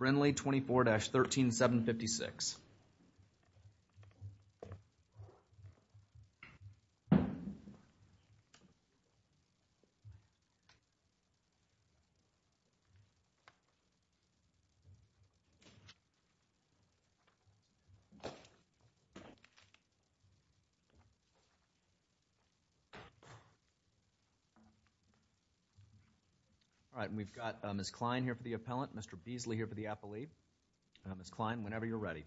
24-13756. We've got Ms. Klein here for the appellant, Mr. Beasley here for the appellate. Ms. Klein, whenever you're ready.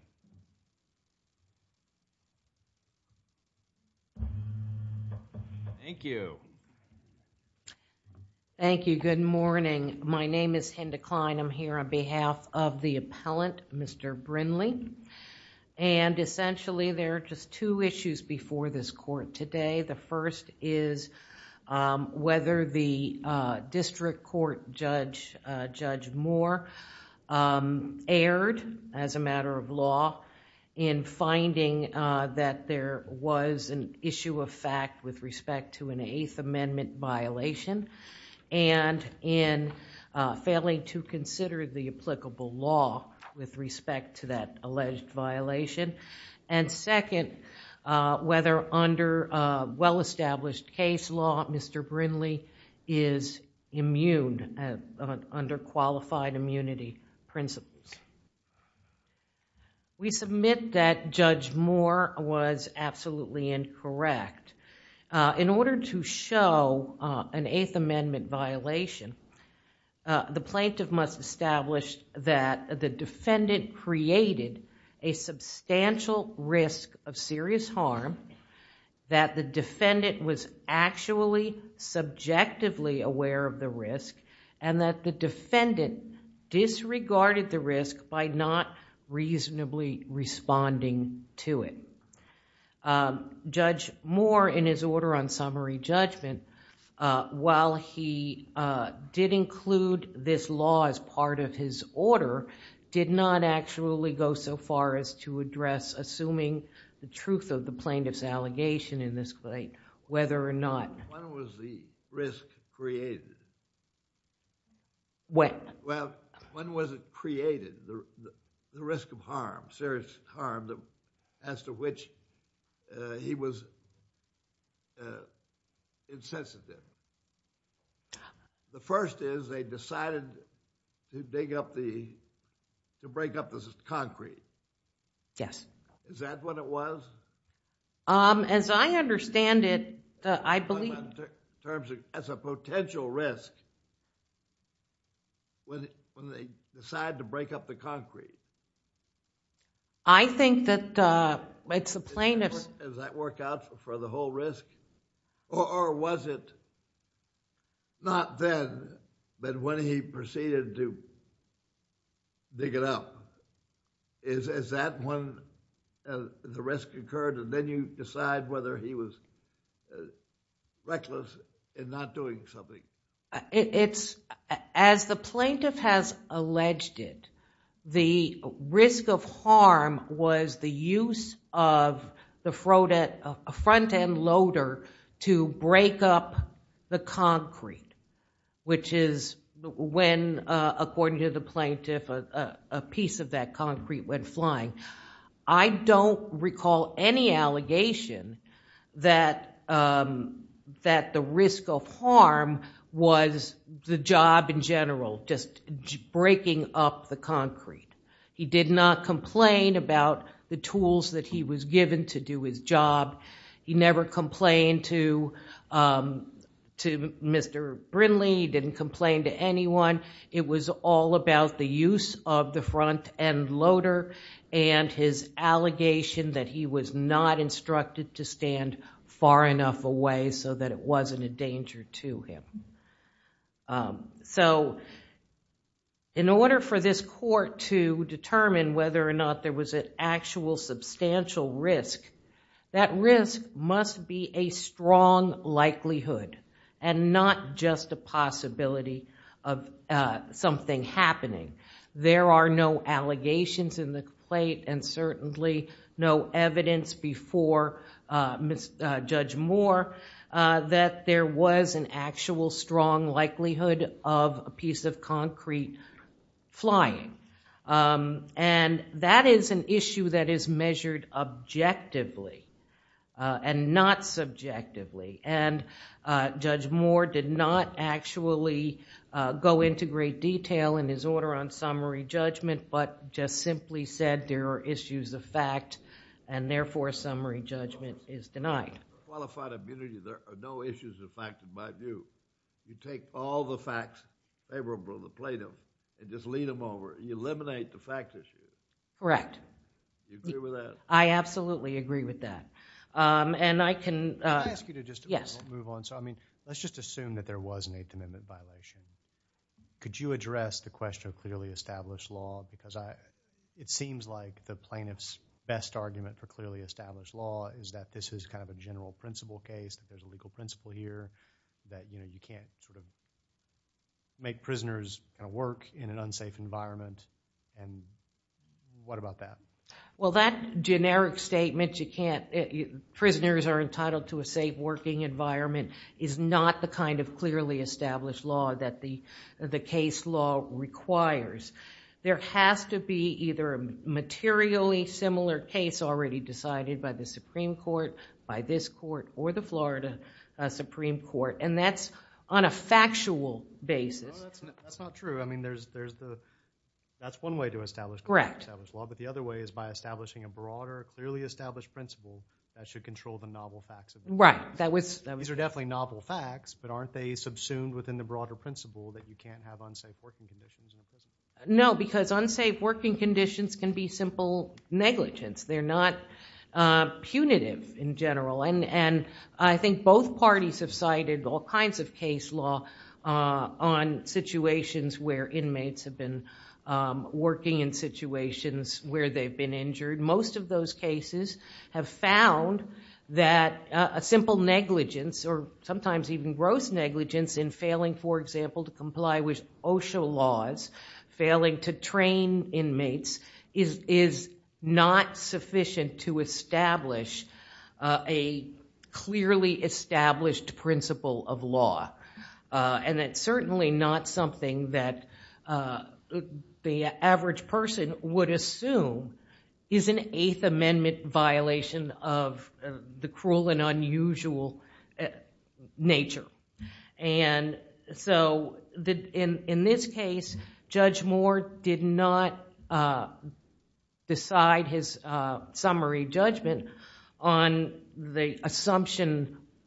Thank you. Thank you. Good morning. My name is Hinda Klein. I'm here on behalf of the appellant, Mr. Brinley. Essentially, there are just two issues before this court today. The first is whether the district court judge, Judge Moore, erred as a matter of law in finding that there was an issue of fact with respect to an Eighth Amendment violation and in failing to consider the applicable law with respect to that alleged violation. Second, whether under well-established case law, Mr. Brinley is immune, under qualified immunity principles. We submit that Judge Moore was absolutely incorrect. In order to show an Eighth Amendment violation, the plaintiff must establish that the defendant created a substantial risk of serious harm, that the defendant was actually subjectively aware of the risk, and that the defendant disregarded the risk by not reasonably responding to it. Judge Moore, in his order on summary judgment, while he did include this law as part of his order, did not actually go so far as to address assuming the truth of the plaintiff's allegation in this case, whether or not... When was the risk created? When? When was it created, the risk of harm, serious harm, as to which he was insensitive? The first is they decided to break up the concrete. Yes. Is that what it was? As I understand it, I believe... In terms of as a potential risk, when they decide to break up the concrete? I think that it's the plaintiff's... Does that work out for the whole risk, or was it not then, but when he proceeded to dig it up? Is that when the risk occurred, and then you decide whether he was reckless in not doing something? As the plaintiff has alleged it, the risk of harm was the use of a front-end to break up the concrete, which is when, according to the plaintiff, a piece of that concrete went flying. I don't recall any allegation that the risk of harm was the job in general, just breaking up the concrete. He did not complain about the tools that he was given to do his job. He never complained to Mr. Brindley. He didn't complain to anyone. It was all about the use of the front-end loader, and his allegation that he was not instructed to stand far enough away so that it wasn't a danger to him. In order for this court to determine whether or not there was an actual substantial risk, that risk must be a strong likelihood and not just a possibility of something happening. There are no allegations in the complaint and certainly no evidence before Judge Moore that there was an actual strong likelihood of a piece of concrete flying. That is an issue that is measured objectively and not subjectively. Judge Moore did not actually go into great detail in his order on summary judgment, but just simply said there are issues of fact and therefore summary judgment is denied. If you take all the facts favorable to Plaintiff and just lead them over, you eliminate the fact issue. Correct. Do you agree with that? I absolutely agree with that. I can... Can I ask you to just... Yes.... move on? Let's just assume that there was an Eighth Amendment violation. Could you address the question of clearly established law? It seems like the plaintiff's best argument for clearly established law is that this is kind of a general principle case, there's a legal principle here that you can't make prisoners work in an unsafe environment. What about that? Well, that generic statement, you can't... prisoners are entitled to a safe working environment is not the kind of clearly established law that the case law requires. There has to be either a materially similar case already decided by the Supreme Court, by this court or the Florida Supreme Court and that's on a factual basis. No, that's not true. I mean, there's the... that's one way to establish... Correct.... established law, but the other way is by establishing a broader, clearly established principle that should control the novel facts... Right, that was... These are definitely novel facts, but aren't they subsumed within the broader principle that you can't have unsafe working conditions in a prison? No, because unsafe working conditions can be simple negligence. They're not punitive in general and I think both parties have cited all kinds of case law on situations where inmates have been working in situations where they've been injured. Most of those cases have found that a simple negligence or sometimes even gross negligence in failing, for example, to comply with OSHA laws, failing to train inmates, is not sufficient to establish a clearly established principle of law. It's certainly not something that the average person would assume is an Eighth Amendment violation of the cruel and unusual nature. In this case, Judge Moore did not decide his summary judgment on the assumption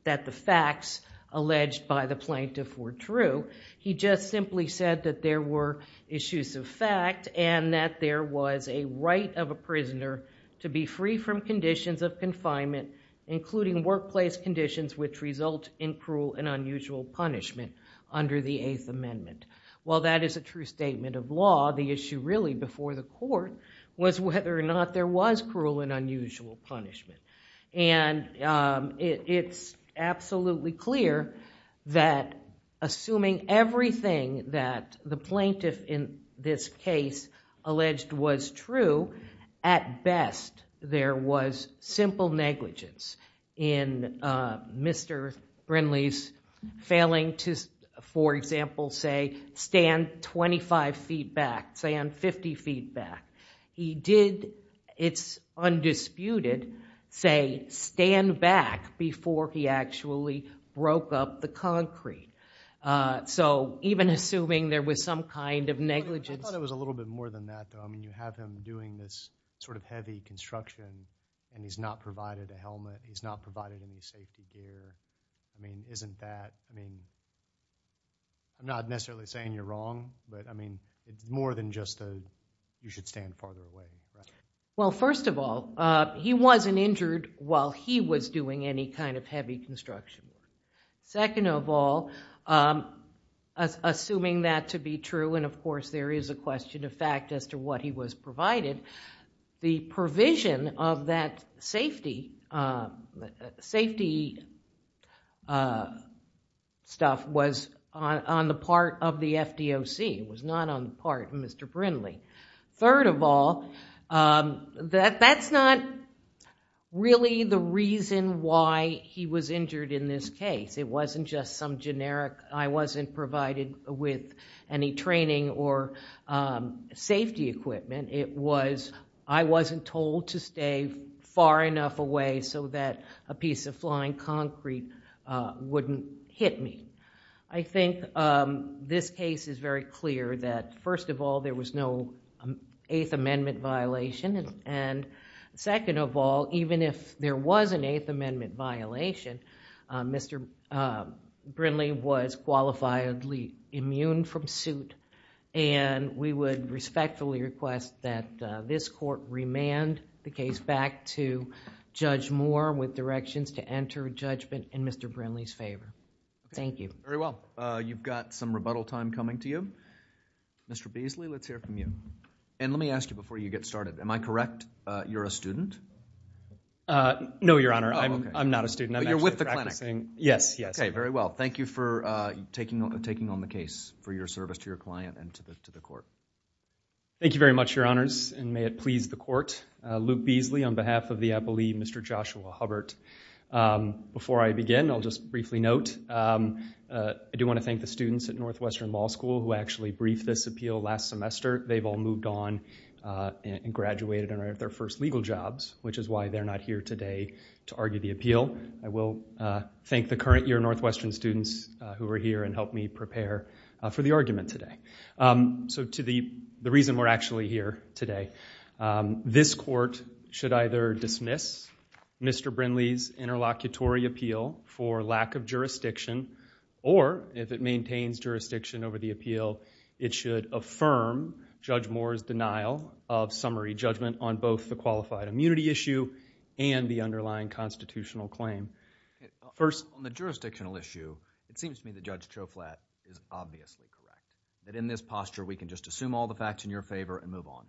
that the facts alleged by the plaintiff were true. He just simply said that there were issues of fact and that there was a right of a prisoner to be free from conditions of confinement, including workplace conditions which result in cruel and unusual punishment under the Eighth Amendment. While that is a true statement of law, the issue really before the court was whether or not there was cruel and unusual punishment. It's absolutely clear that assuming everything that the plaintiff in this case alleged was true, at best, there was simple negligence in Mr. Brinley's failing to, for example, say, stand twenty-five feet back, stand fifty feet back. He did, it's undisputed, say, stand back before he actually broke up the concrete. Even assuming there was some kind of negligence... I thought it was a little bit more than that though. You have him doing this sort of heavy construction and he's not provided a helmet, he's not provided any safety gear, I mean, isn't that... I mean, I'm not necessarily saying you're wrong, but I mean, it's more than just a, you should stand farther away. Well first of all, he wasn't injured while he was doing any kind of heavy construction. Second of all, assuming that to be true, and of course there is a question of fact as to what he was provided, the provision of that safety stuff was on the part of the FDOC, it was not on the part of Mr. Brinley. Third of all, that's not really the reason why he was injured in this case. It wasn't just some generic, I wasn't provided with any training or safety equipment. It was, I wasn't told to stay far enough away so that a piece of flying concrete wouldn't hit me. I think this case is very clear that first of all, there was no Eighth Amendment violation and second of all, even if there was an Eighth Amendment violation, Mr. Brinley was qualifiably immune from suit and we would respectfully request that this court remand the case back to Judge Moore with directions to enter judgment in Mr. Brinley's favor. Thank you. Very well. You've got some rebuttal time coming to you. Mr. Beasley, let's hear from you. And let me ask you before you get started, am I correct, you're a student? No, Your Honor, I'm not a student. But you're with the clinic. Yes, yes. Okay, very well. Thank you for taking on the case for your service to your client and to the court. Thank you very much, Your Honors, and may it please the court. Luke Beasley on behalf of the appellee, Mr. Joshua Hubbert. Before I begin, I'll just briefly note, I do want to thank the students at Northwestern Law School who actually briefed this appeal last semester. They've all moved on and graduated and are at their first legal jobs, which is why they're not here today to argue the appeal. I will thank the current year Northwestern students who are here and helped me prepare for the argument today. So to the reason we're actually here today, this court should either dismiss Mr. Brindley's interlocutory appeal for lack of jurisdiction, or if it maintains jurisdiction over the appeal, it should affirm Judge Moore's denial of summary judgment on both the qualified immunity issue and the underlying constitutional claim. First, on the jurisdictional issue, it seems to me that Judge Choflat is obviously correct. That in this posture, we can just assume all the facts in your favor and move on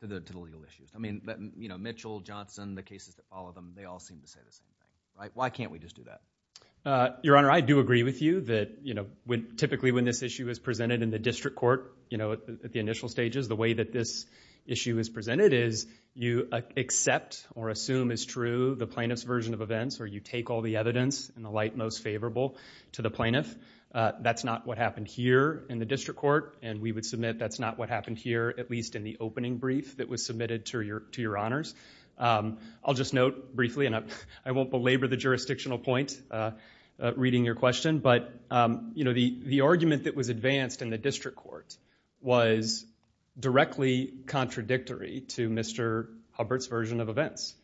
to the legal issues. I mean, you know, Mitchell, Johnson, the cases that follow them, they all seem to say the same, right? Why can't we just do that? Your Honor, I do agree with you that, you know, typically when this issue is presented in the district court, you know, at the initial stages, the way that this issue is presented is you accept or assume is true the plaintiff's version of events, or you take all the evidence in the light most favorable to the plaintiff. That's not what happened here in the district court, and we would submit that's not what happened here, at least in the opening brief that was submitted to your honors. I'll just note briefly, and I won't belabor the jurisdictional point reading your question, but, you know, the argument that was advanced in the district court was directly contradictory to Mr. Hubbard's version of events.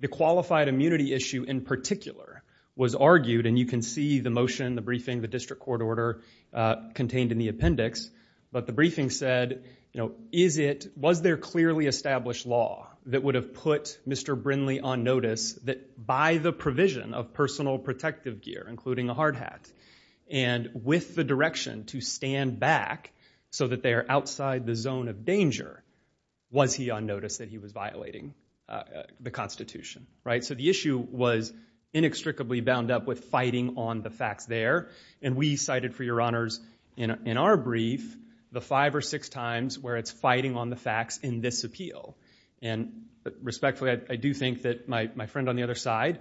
The qualified immunity issue in particular was argued, and you can see the motion, the briefing, the district court order contained in the appendix, but the briefing said, you know, is it, was there clearly established law that would have put Mr. Brinley on notice that by the provision of personal protective gear, including a hard hat, and with the direction to stand back so that they are outside the zone of danger, was he on notice that he was violating the Constitution, right? So the issue was inextricably bound up with fighting on the facts there, and we cited for your honors in our brief the five or six times where it's fighting on the facts in this appeal. And respectfully, I do think that my friend on the other side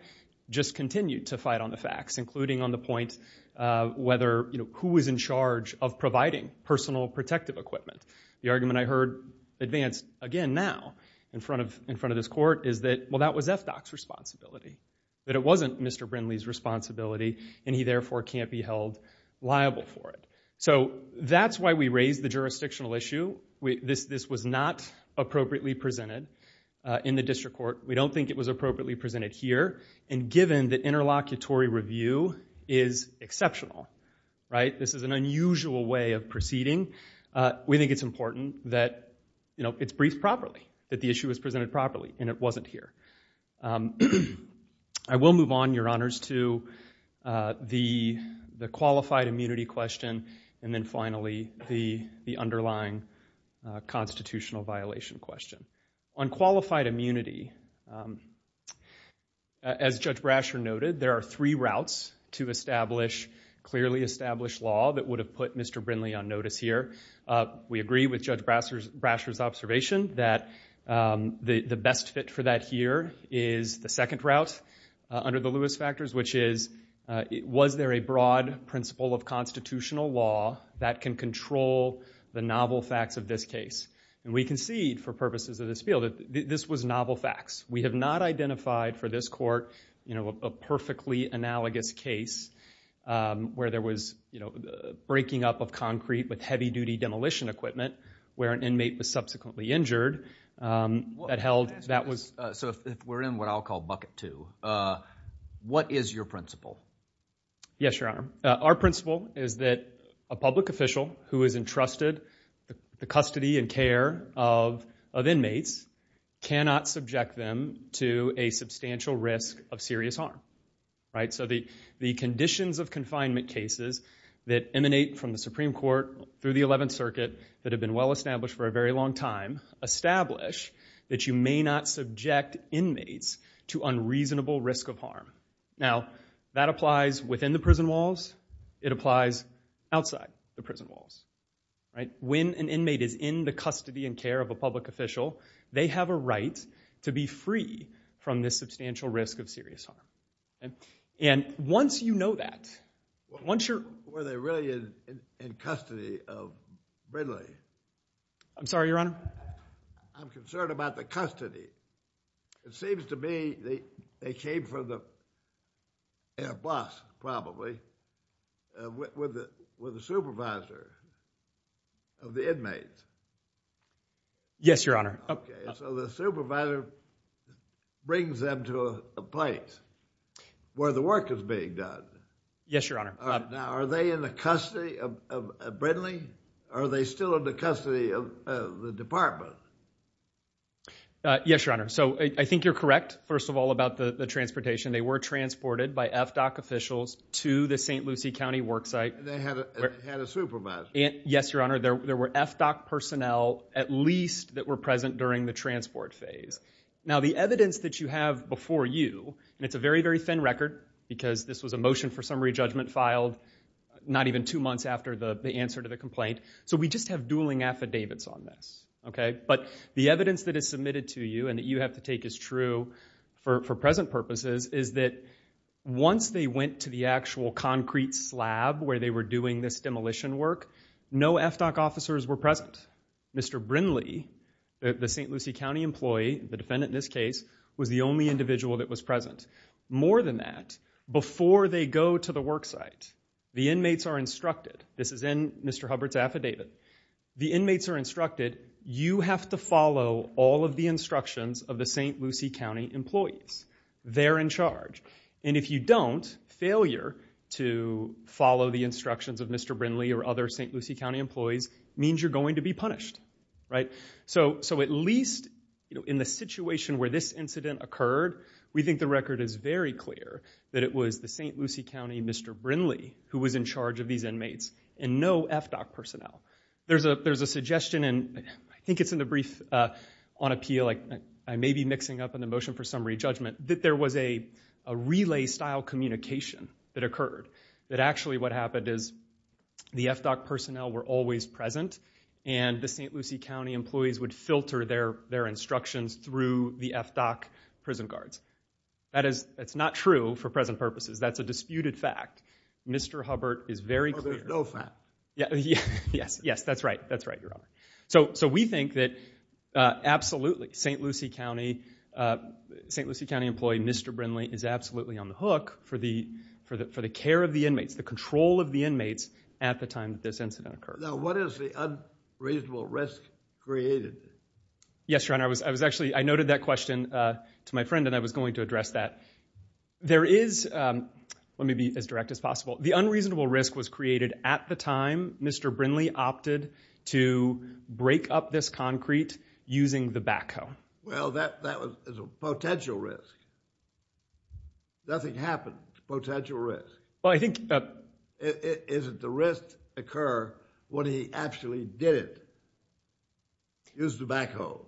just continued to fight on the facts, including on the point of whether, you know, who was in charge of providing personal protective equipment. The argument I heard advanced again now in front of this court is that, well, that was FDOC's responsibility, that it wasn't Mr. Brinley's responsibility, and he therefore can't be held liable for it. So that's why we raised the jurisdictional issue. This was not appropriately presented in the district court. We don't think it was appropriately presented here, and given the interlocutory review is exceptional, right? This is an unusual way of proceeding. We think it's important that, you know, it's briefed properly, that the issue was presented properly, and it wasn't here. I will move on, your honors, to the qualified immunity question, and then finally the underlying constitutional violation question. On qualified immunity, as Judge Brasher noted, there are three routes to establish clearly established law that would have put Mr. Brinley on notice here. We agree with Judge Brasher's observation that the best fit for that here is the second route under the Lewis factors, which is, was there a broad principle of constitutional law that can control the novel facts of this case? And we concede, for purposes of this field, that this was novel facts. We have not identified for this court, you know, a perfectly analogous case where there was, you know, breaking up of concrete with heavy duty demolition equipment, where an inmate was subsequently injured, that held, that was... So if we're in what I'll call bucket two, what is your principle? Yes, your honor. Our principle is that a public official who is entrusted the custody and care of inmates cannot subject them to a substantial risk of serious harm, right? So the conditions of confinement cases that emanate from the Supreme Court through the 11th Circuit that have been well established for a very long time, establish that you may not subject inmates to unreasonable risk of harm. Now, that applies within the prison walls. It applies outside the prison walls, right? When an inmate is in the custody and care of a public official, they have a right to be free from this substantial risk of serious harm. And once you know that, once you're... Were they really in custody of Bridley? I'm sorry, your honor? I'm concerned about the custody. It seems to me they came from the bus, probably, with the supervisor of the inmates. Yes, your honor. So the supervisor brings them to a place where the work is being done. Yes, your honor. Now, are they in the custody of Bridley? Are they still in the custody of the department? Yes, your honor. So I think you're correct, first of all, about the transportation. They were transported by FDOC officials to the St. Lucie County worksite. They had a supervisor? Yes, your honor. There were FDOC personnel, at least, that were present during the transport phase. Now, the evidence that you have before you, and it's a very, very thin record, because this was a motion for summary judgment filed not even two months after the answer to the complaint. So we just have dueling affidavits on this, okay? But the evidence that is submitted to you, and that you have to take as true for present purposes, is that once they went to the actual concrete slab where they were doing this demolition work, no FDOC officers were present. Mr. Brindley, the St. Lucie County employee, the defendant in this case, was the only individual that was present. More than that, before they go to the worksite, the inmates are instructed. This is in Mr. Hubbard's affidavit. The inmates are instructed, you have to follow all of the instructions of the St. Lucie County employees. They're in charge. And if you don't, failure to follow the instructions of Mr. Brindley or other St. Lucie County employees means you're going to be punished, right? So at least in the situation where this incident occurred, we think the record is very clear that it was the St. Lucie County Mr. Brindley who was in charge of these inmates, and no FDOC personnel. There's a suggestion, and I think it's in the brief on appeal, I may be mixing up in the motion for summary judgment, that there was a relay-style communication that occurred. That actually what happened is the FDOC personnel were always present, and the St. Lucie County employees would filter their instructions through the FDOC prison guards. That's not true for present purposes. That's a disputed fact. Mr. Hubbard is very clear. Oh, there's no fact. Yes, yes, that's right. That's right, Your Honor. So we think that absolutely, St. Lucie County employee Mr. Brindley is absolutely on the hook for the care of the inmates, the control of the inmates at the time that this incident occurred. Now, what is the unreasonable risk created? Yes, Your Honor, I was actually, I noted that question to my friend, and I was going to address that. There is, let me be as direct as possible, the unreasonable risk was created at the time Mr. Brindley opted to break up this concrete using the backhoe. Well, that was a potential risk. Nothing happened. Potential risk. Well, I think that Is it the risk occur when he actually did it? Use the backhoe.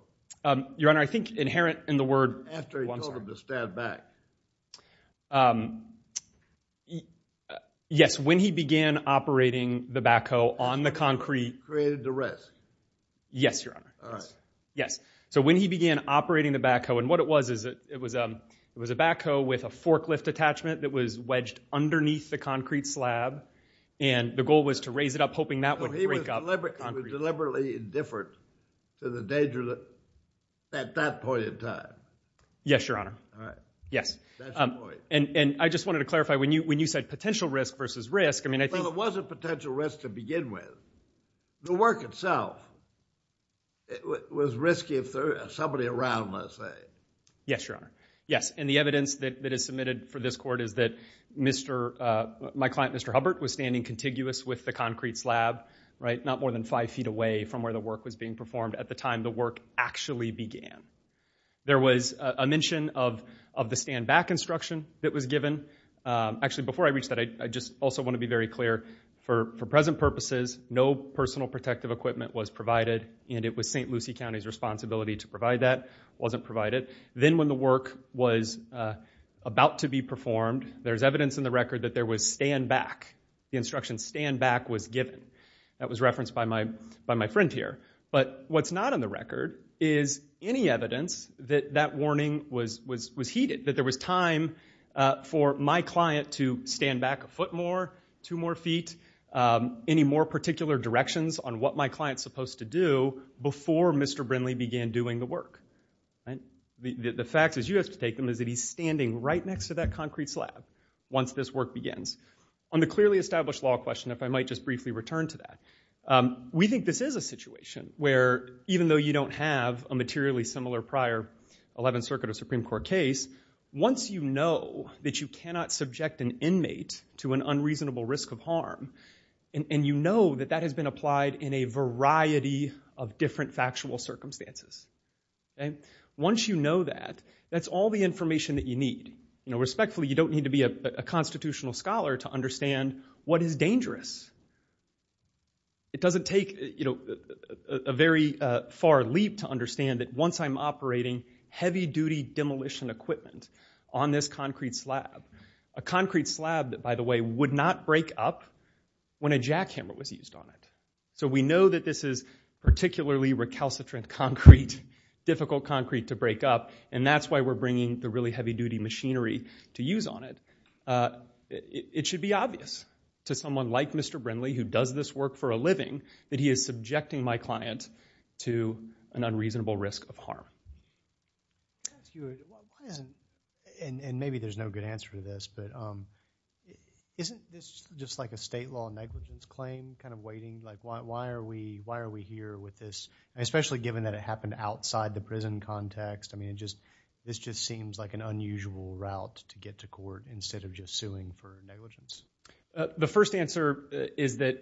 Your Honor, I think inherent in the word, after he told him to stand back. Yes, when he began operating the backhoe on the concrete. Created the risk. Yes, Your Honor. Yes, so when he began operating the backhoe, and what it was, it was a backhoe with a forklift attachment that was wedged underneath the concrete slab, and the goal was to raise it up, hoping that wouldn't break up. It was deliberately indifferent to the danger at that point in time. Yes, Your Honor. Yes, and I just wanted to clarify, when you said potential risk versus risk, I mean, I think Well, there was a potential risk to begin with. The work itself was risky if there was somebody around, let's say. Yes, Your Honor. Yes, and the evidence that is submitted for this court is that my client, Mr. Hubbard, was standing contiguous with the concrete slab, not more than five feet away from where the work was being performed at the time the work actually began. There was a mention of the stand back instruction that was given. Actually, before I reach that, I just also want to be very clear. For present purposes, no personal protective equipment was provided, and it was St. Lucie County's responsibility to provide that. Wasn't provided. Then when the work was about to be performed, there's evidence in the record that there was stand back. The instruction stand back was given. That was referenced by my friend here. But what's not on the record is any evidence that that warning was heeded, that there was time for my client to stand back a foot more, two more feet, any more particular directions on what my client's supposed to do before Mr. Brinley began doing the work. The fact is, you have to take them, is that he's standing right next to that concrete slab once this work begins. On the clearly established law question, if I might just briefly return to that, we think this is a situation where, even though you don't have a materially similar prior 11th Circuit or Supreme Court case, once you know that you cannot subject an inmate to an unreasonable risk of harm, and you know that that has been applied in a variety of different factual circumstances, once you know that, that's all the information that you need. Respectfully, you don't need to be a constitutional scholar to understand what is dangerous. It doesn't take a very far leap to understand that once I'm operating heavy duty demolition equipment on this concrete slab, a concrete slab that, by the way, would not break up when a jackhammer was used on it. So we know that this is particularly recalcitrant concrete, difficult concrete to break up. And that's why we're bringing the really heavy duty machinery to use on it. It should be obvious to someone like Mr. Brindley, who does this work for a living, that he is subjecting my client to an unreasonable risk of harm. And maybe there's no good answer to this, but isn't this just like a state law negligence claim, kind of waiting? Like, why are we here with this? Especially given that it happened outside the prison context. I mean, this just seems like an unusual route to get to court instead of just suing for negligence. The first answer is that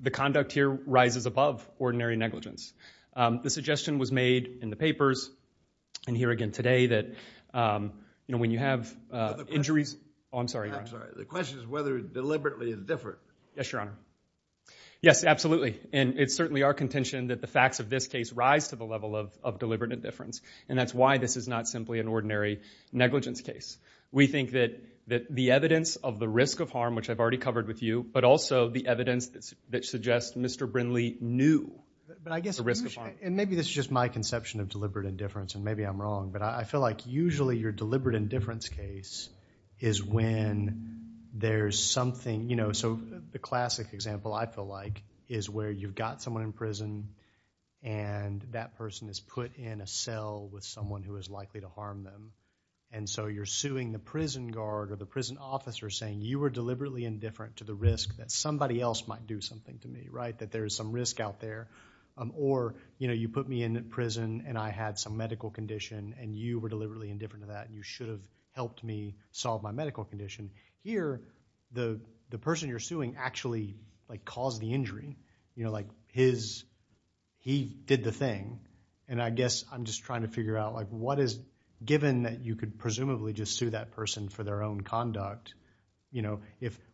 the conduct here rises above ordinary negligence. The suggestion was made in the papers, and here again today, that when you have injuries. Oh, I'm sorry, Your Honor. I'm sorry. The question is whether it's deliberately indifferent. Yes, Your Honor. Yes, absolutely. And it's certainly our contention that the facts of this case rise to the level of deliberate indifference. And that's why this is not simply an ordinary negligence case. We think that the evidence of the risk of harm, which I've already covered with you, but also the evidence that suggests Mr. Brindley knew the risk of harm. And maybe this is just my conception of deliberate indifference, and maybe I'm wrong. But I feel like usually your deliberate indifference case is when there's something. So the classic example, I feel like, is where you've got someone in prison, and that person is put in a cell with someone who is likely to harm them. And so you're suing the prison guard or the prison officer, saying you were deliberately indifferent to the risk that somebody else might do something to me, that there is some risk out there. Or you put me in prison, and I had some medical condition, and you were deliberately indifferent to that. You should have helped me solve my medical condition. Here, the person you're suing actually caused the injury. His, he did the thing. And I guess I'm just trying to figure out what is, given that you could presumably just sue that person for their own conduct,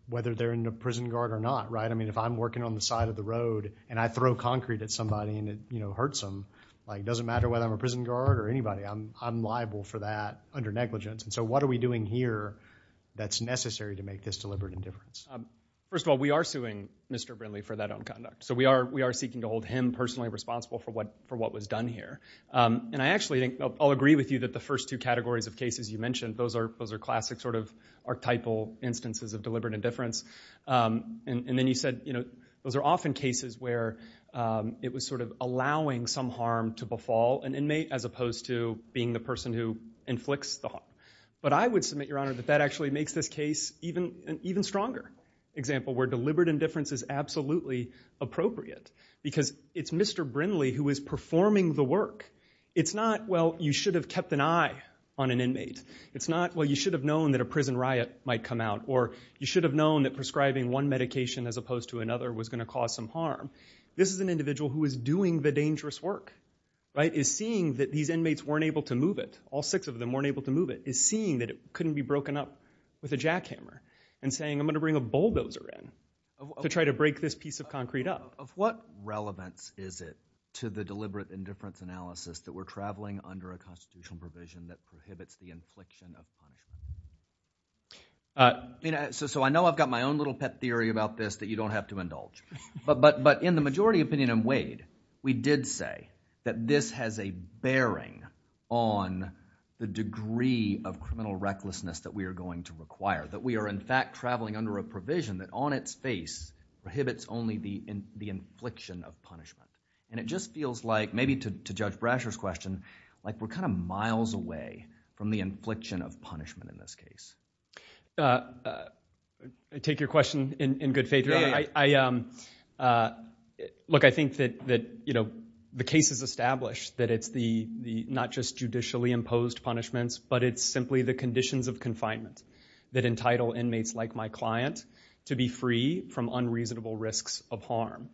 whether they're in the prison guard or not, right? I mean, if I'm working on the side of the road, and I throw concrete at somebody, and it hurts them, doesn't matter whether I'm a prison guard or anybody. I'm liable for that under negligence. And so what are we doing here that's necessary to make this deliberate indifference? First of all, we are suing Mr. Brindley for that own conduct. So we are seeking to hold him personally responsible for what was done here. And I actually think I'll agree with you that the first two categories of cases you mentioned, those are classic sort of archetypal instances of deliberate indifference. And then you said, those are often cases where it was sort of allowing some harm to befall an inmate, as opposed to being the person who inflicts the harm. But I would submit, Your Honor, that that actually makes this case an even stronger example, where deliberate indifference is absolutely appropriate. Because it's Mr. Brindley who is performing the work. It's not, well, you should have kept an eye on an inmate. It's not, well, you should have known that a prison riot might come out. Or you should have known that prescribing one medication as opposed to another was going to cause some harm. This is an individual who is doing the dangerous work, right? Is seeing that these inmates weren't able to move it. All six of them weren't able to move it. Is seeing that it couldn't be broken up with a jackhammer. And saying, I'm going to bring a bulldozer in to try to break this piece of concrete up. Of what relevance is it to the deliberate indifference analysis that we're traveling under a constitutional provision that prohibits the infliction of harm? So I know I've got my own little pet theory about this that you don't have to indulge. But in the majority opinion in Wade, we did say that this has a bearing on the degree of criminal recklessness that we are going to require. That we are, in fact, traveling under a provision that on its face prohibits only the infliction of punishment. And it just feels like, maybe to Judge Brasher's question, like we're kind of miles away from the infliction of punishment in this case. I take your question in good faith, Your Honor. I think that the case is established that it's not just judicially imposed punishments, but it's simply the conditions of confinement that entitle inmates like my client to be free from unreasonable risks of harm.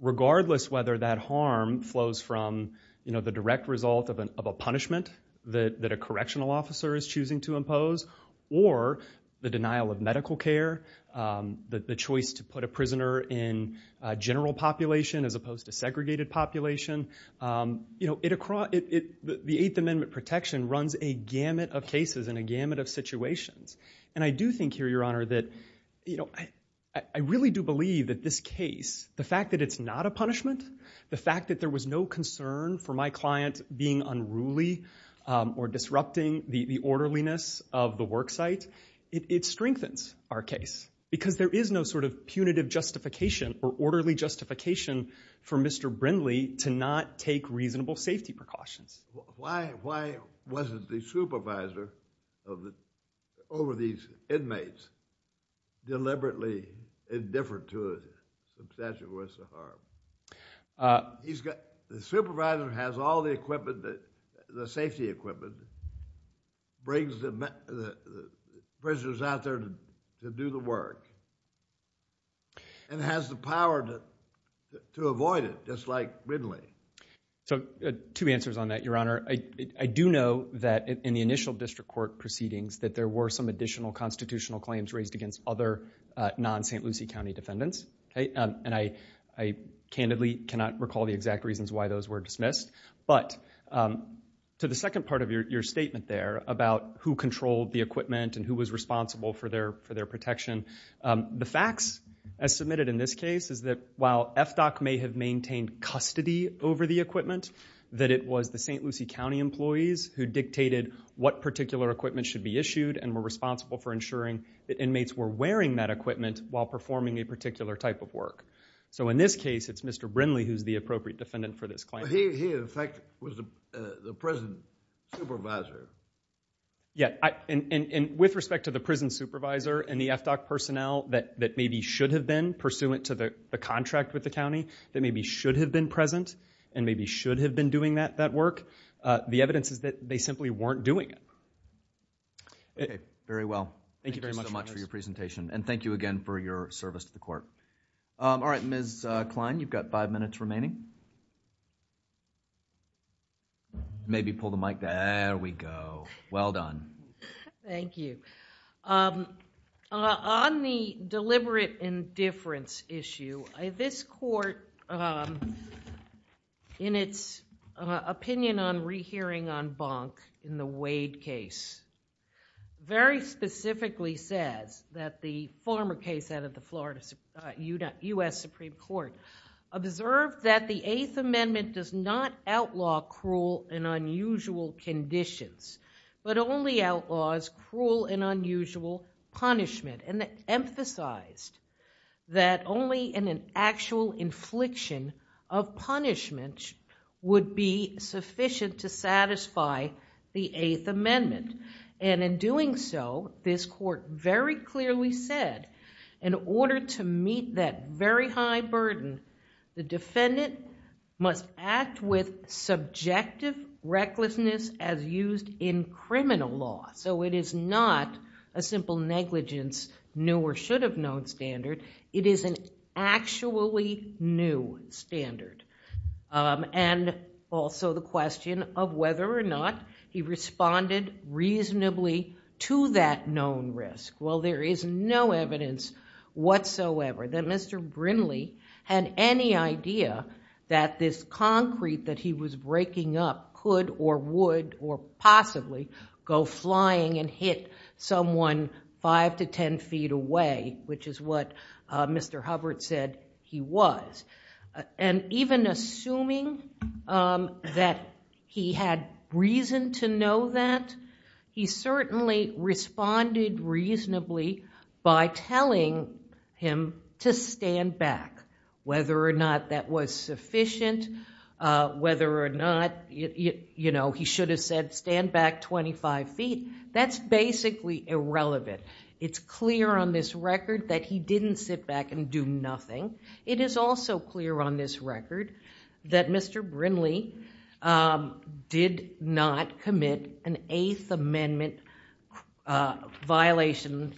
Regardless whether that harm flows from the direct result of a punishment that a correctional officer is choosing to impose, or the denial of medical care, the choice to put a prisoner in a general population as opposed to segregated population, the Eighth Amendment protection runs a gamut of cases and a gamut of situations. And I do think here, Your Honor, that I really do believe that this case, the fact that it's not a punishment, the fact that there was no concern for my client being unruly or disrupting the orderliness of the work site, it strengthens our case. Because there is no sort of punitive justification or orderly justification for Mr. Brindley to not take reasonable safety precautions. Why wasn't the supervisor over these inmates deliberately indifferent to the statute of risks of harm? The supervisor has all the safety equipment, brings the prisoners out there to do the work, and has the power to avoid it, just like Brindley. So two answers on that, Your Honor. I do know that in the initial district court proceedings that there were some additional constitutional claims raised against other non-St. Lucie County defendants. And I candidly cannot recall the exact reasons why those were dismissed. But to the second part of your statement there about who controlled the equipment and who was responsible for their protection, the facts, as submitted in this case, is that while FDOC may have maintained custody over the equipment, that it was the St. Lucie County employees who dictated what particular equipment should be issued and were responsible for ensuring that inmates were wearing that equipment while performing a particular type of work. So in this case, it's Mr. Brindley who's the appropriate defendant for this claim. He, in fact, was the prison supervisor. Yeah, and with respect to the prison supervisor and the FDOC personnel that maybe should have been pursuant to the contract with the county, that maybe should have been present and maybe should have been doing that work, the evidence is that they simply weren't doing it. Very well. Thank you very much for your presentation. And thank you again for your service to the court. All right, Ms. Kline, you've got five minutes remaining. Maybe pull the mic down. There we go. Well done. Thank you. On the deliberate indifference issue, this court, in its opinion on rehearing on Bonk in the Wade case, very specifically says that the former case out of the Florida US Supreme Court observed that the Eighth Amendment does not outlaw cruel and unusual conditions, but only outlaws cruel and unusual punishment. And it emphasized that only an actual infliction of punishment would be sufficient to satisfy the Eighth Amendment. And in doing so, this court very clearly said, in order to meet that very high burden, the defendant must act with subjective recklessness as used in criminal law. So it is not a simple negligence, new or should have known standard. It is an actually new standard. And also the question of whether or not he responded reasonably to that known risk. Well, there is no evidence whatsoever that Mr. Brinley had any idea that this concrete that he was breaking up could or would or possibly go flying and hit someone 5 to 10 feet away, which is what Mr. Hubbard said he was. And even assuming that he had reason to know that, he certainly responded reasonably by telling him to stand back. Whether or not that was sufficient, whether or not he should have said stand back 25 feet, that's basically irrelevant. It's clear on this record that he didn't sit back and do nothing. It is also clear on this record that Mr. Brinley did not an Eighth Amendment violation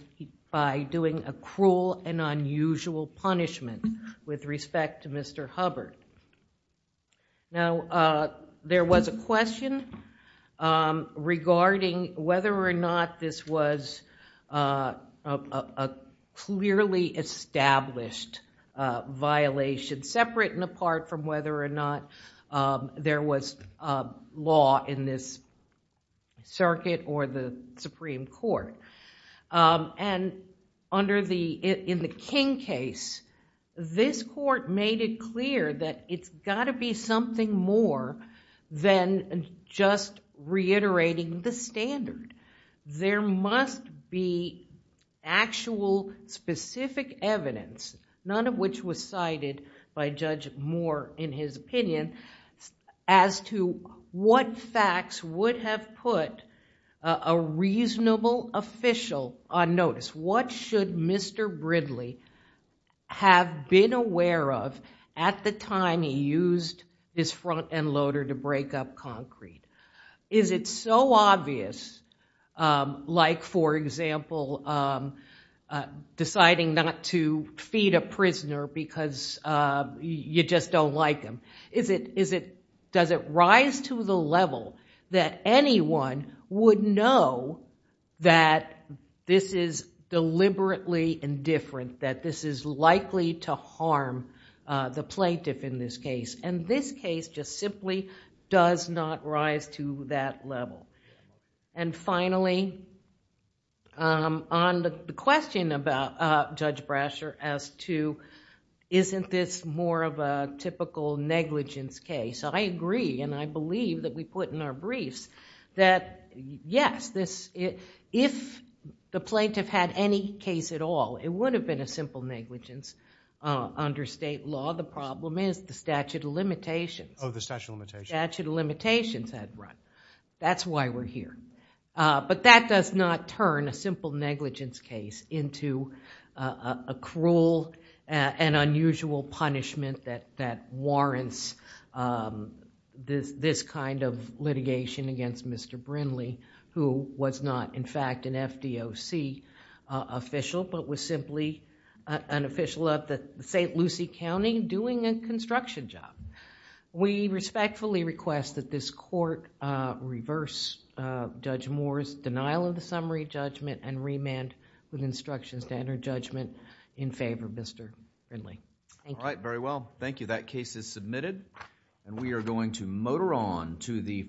by doing a cruel and unusual punishment with respect to Mr. Hubbard. Now, there was a question regarding whether or not this was a clearly established violation, separate and apart from whether or not there was law in this circuit or the Supreme Court. In the King case, this court made it clear that it's got to be something more than just reiterating the standard. There must be actual specific evidence, none of which was cited by Judge Moore in his opinion, as to what facts would have put a reasonable official on notice. What should Mr. Brinley have been aware of at the time he used his front end loader to break up concrete? Is it so obvious, like for example, deciding not to feed a prisoner because you just don't like him? Does it rise to the level that anyone would know that this is deliberately indifferent, that this is likely to harm the plaintiff in this case? This case just simply does not rise to that level. Finally, on the question about Judge Brasher as to isn't this more of a typical negligence case, I agree and I believe that we put in our briefs that yes, if the plaintiff had any case at all, it would have been a simple negligence under state law. The problem is the statute of limitations. The statute of limitations had run. That's why we're here. That does not turn a simple negligence case into a cruel and unusual punishment that warrants this kind of litigation against Mr. Brinley, who was not in fact an FDOC official, but was simply an official of the St. Lucie County doing a construction job. We respectfully request that this court reverse Judge Moore's denial of the summary judgment and remand with instructions to enter judgment in favor of Mr. Brinley. Thank you. Thank you. That case is submitted and we are going to motor on to the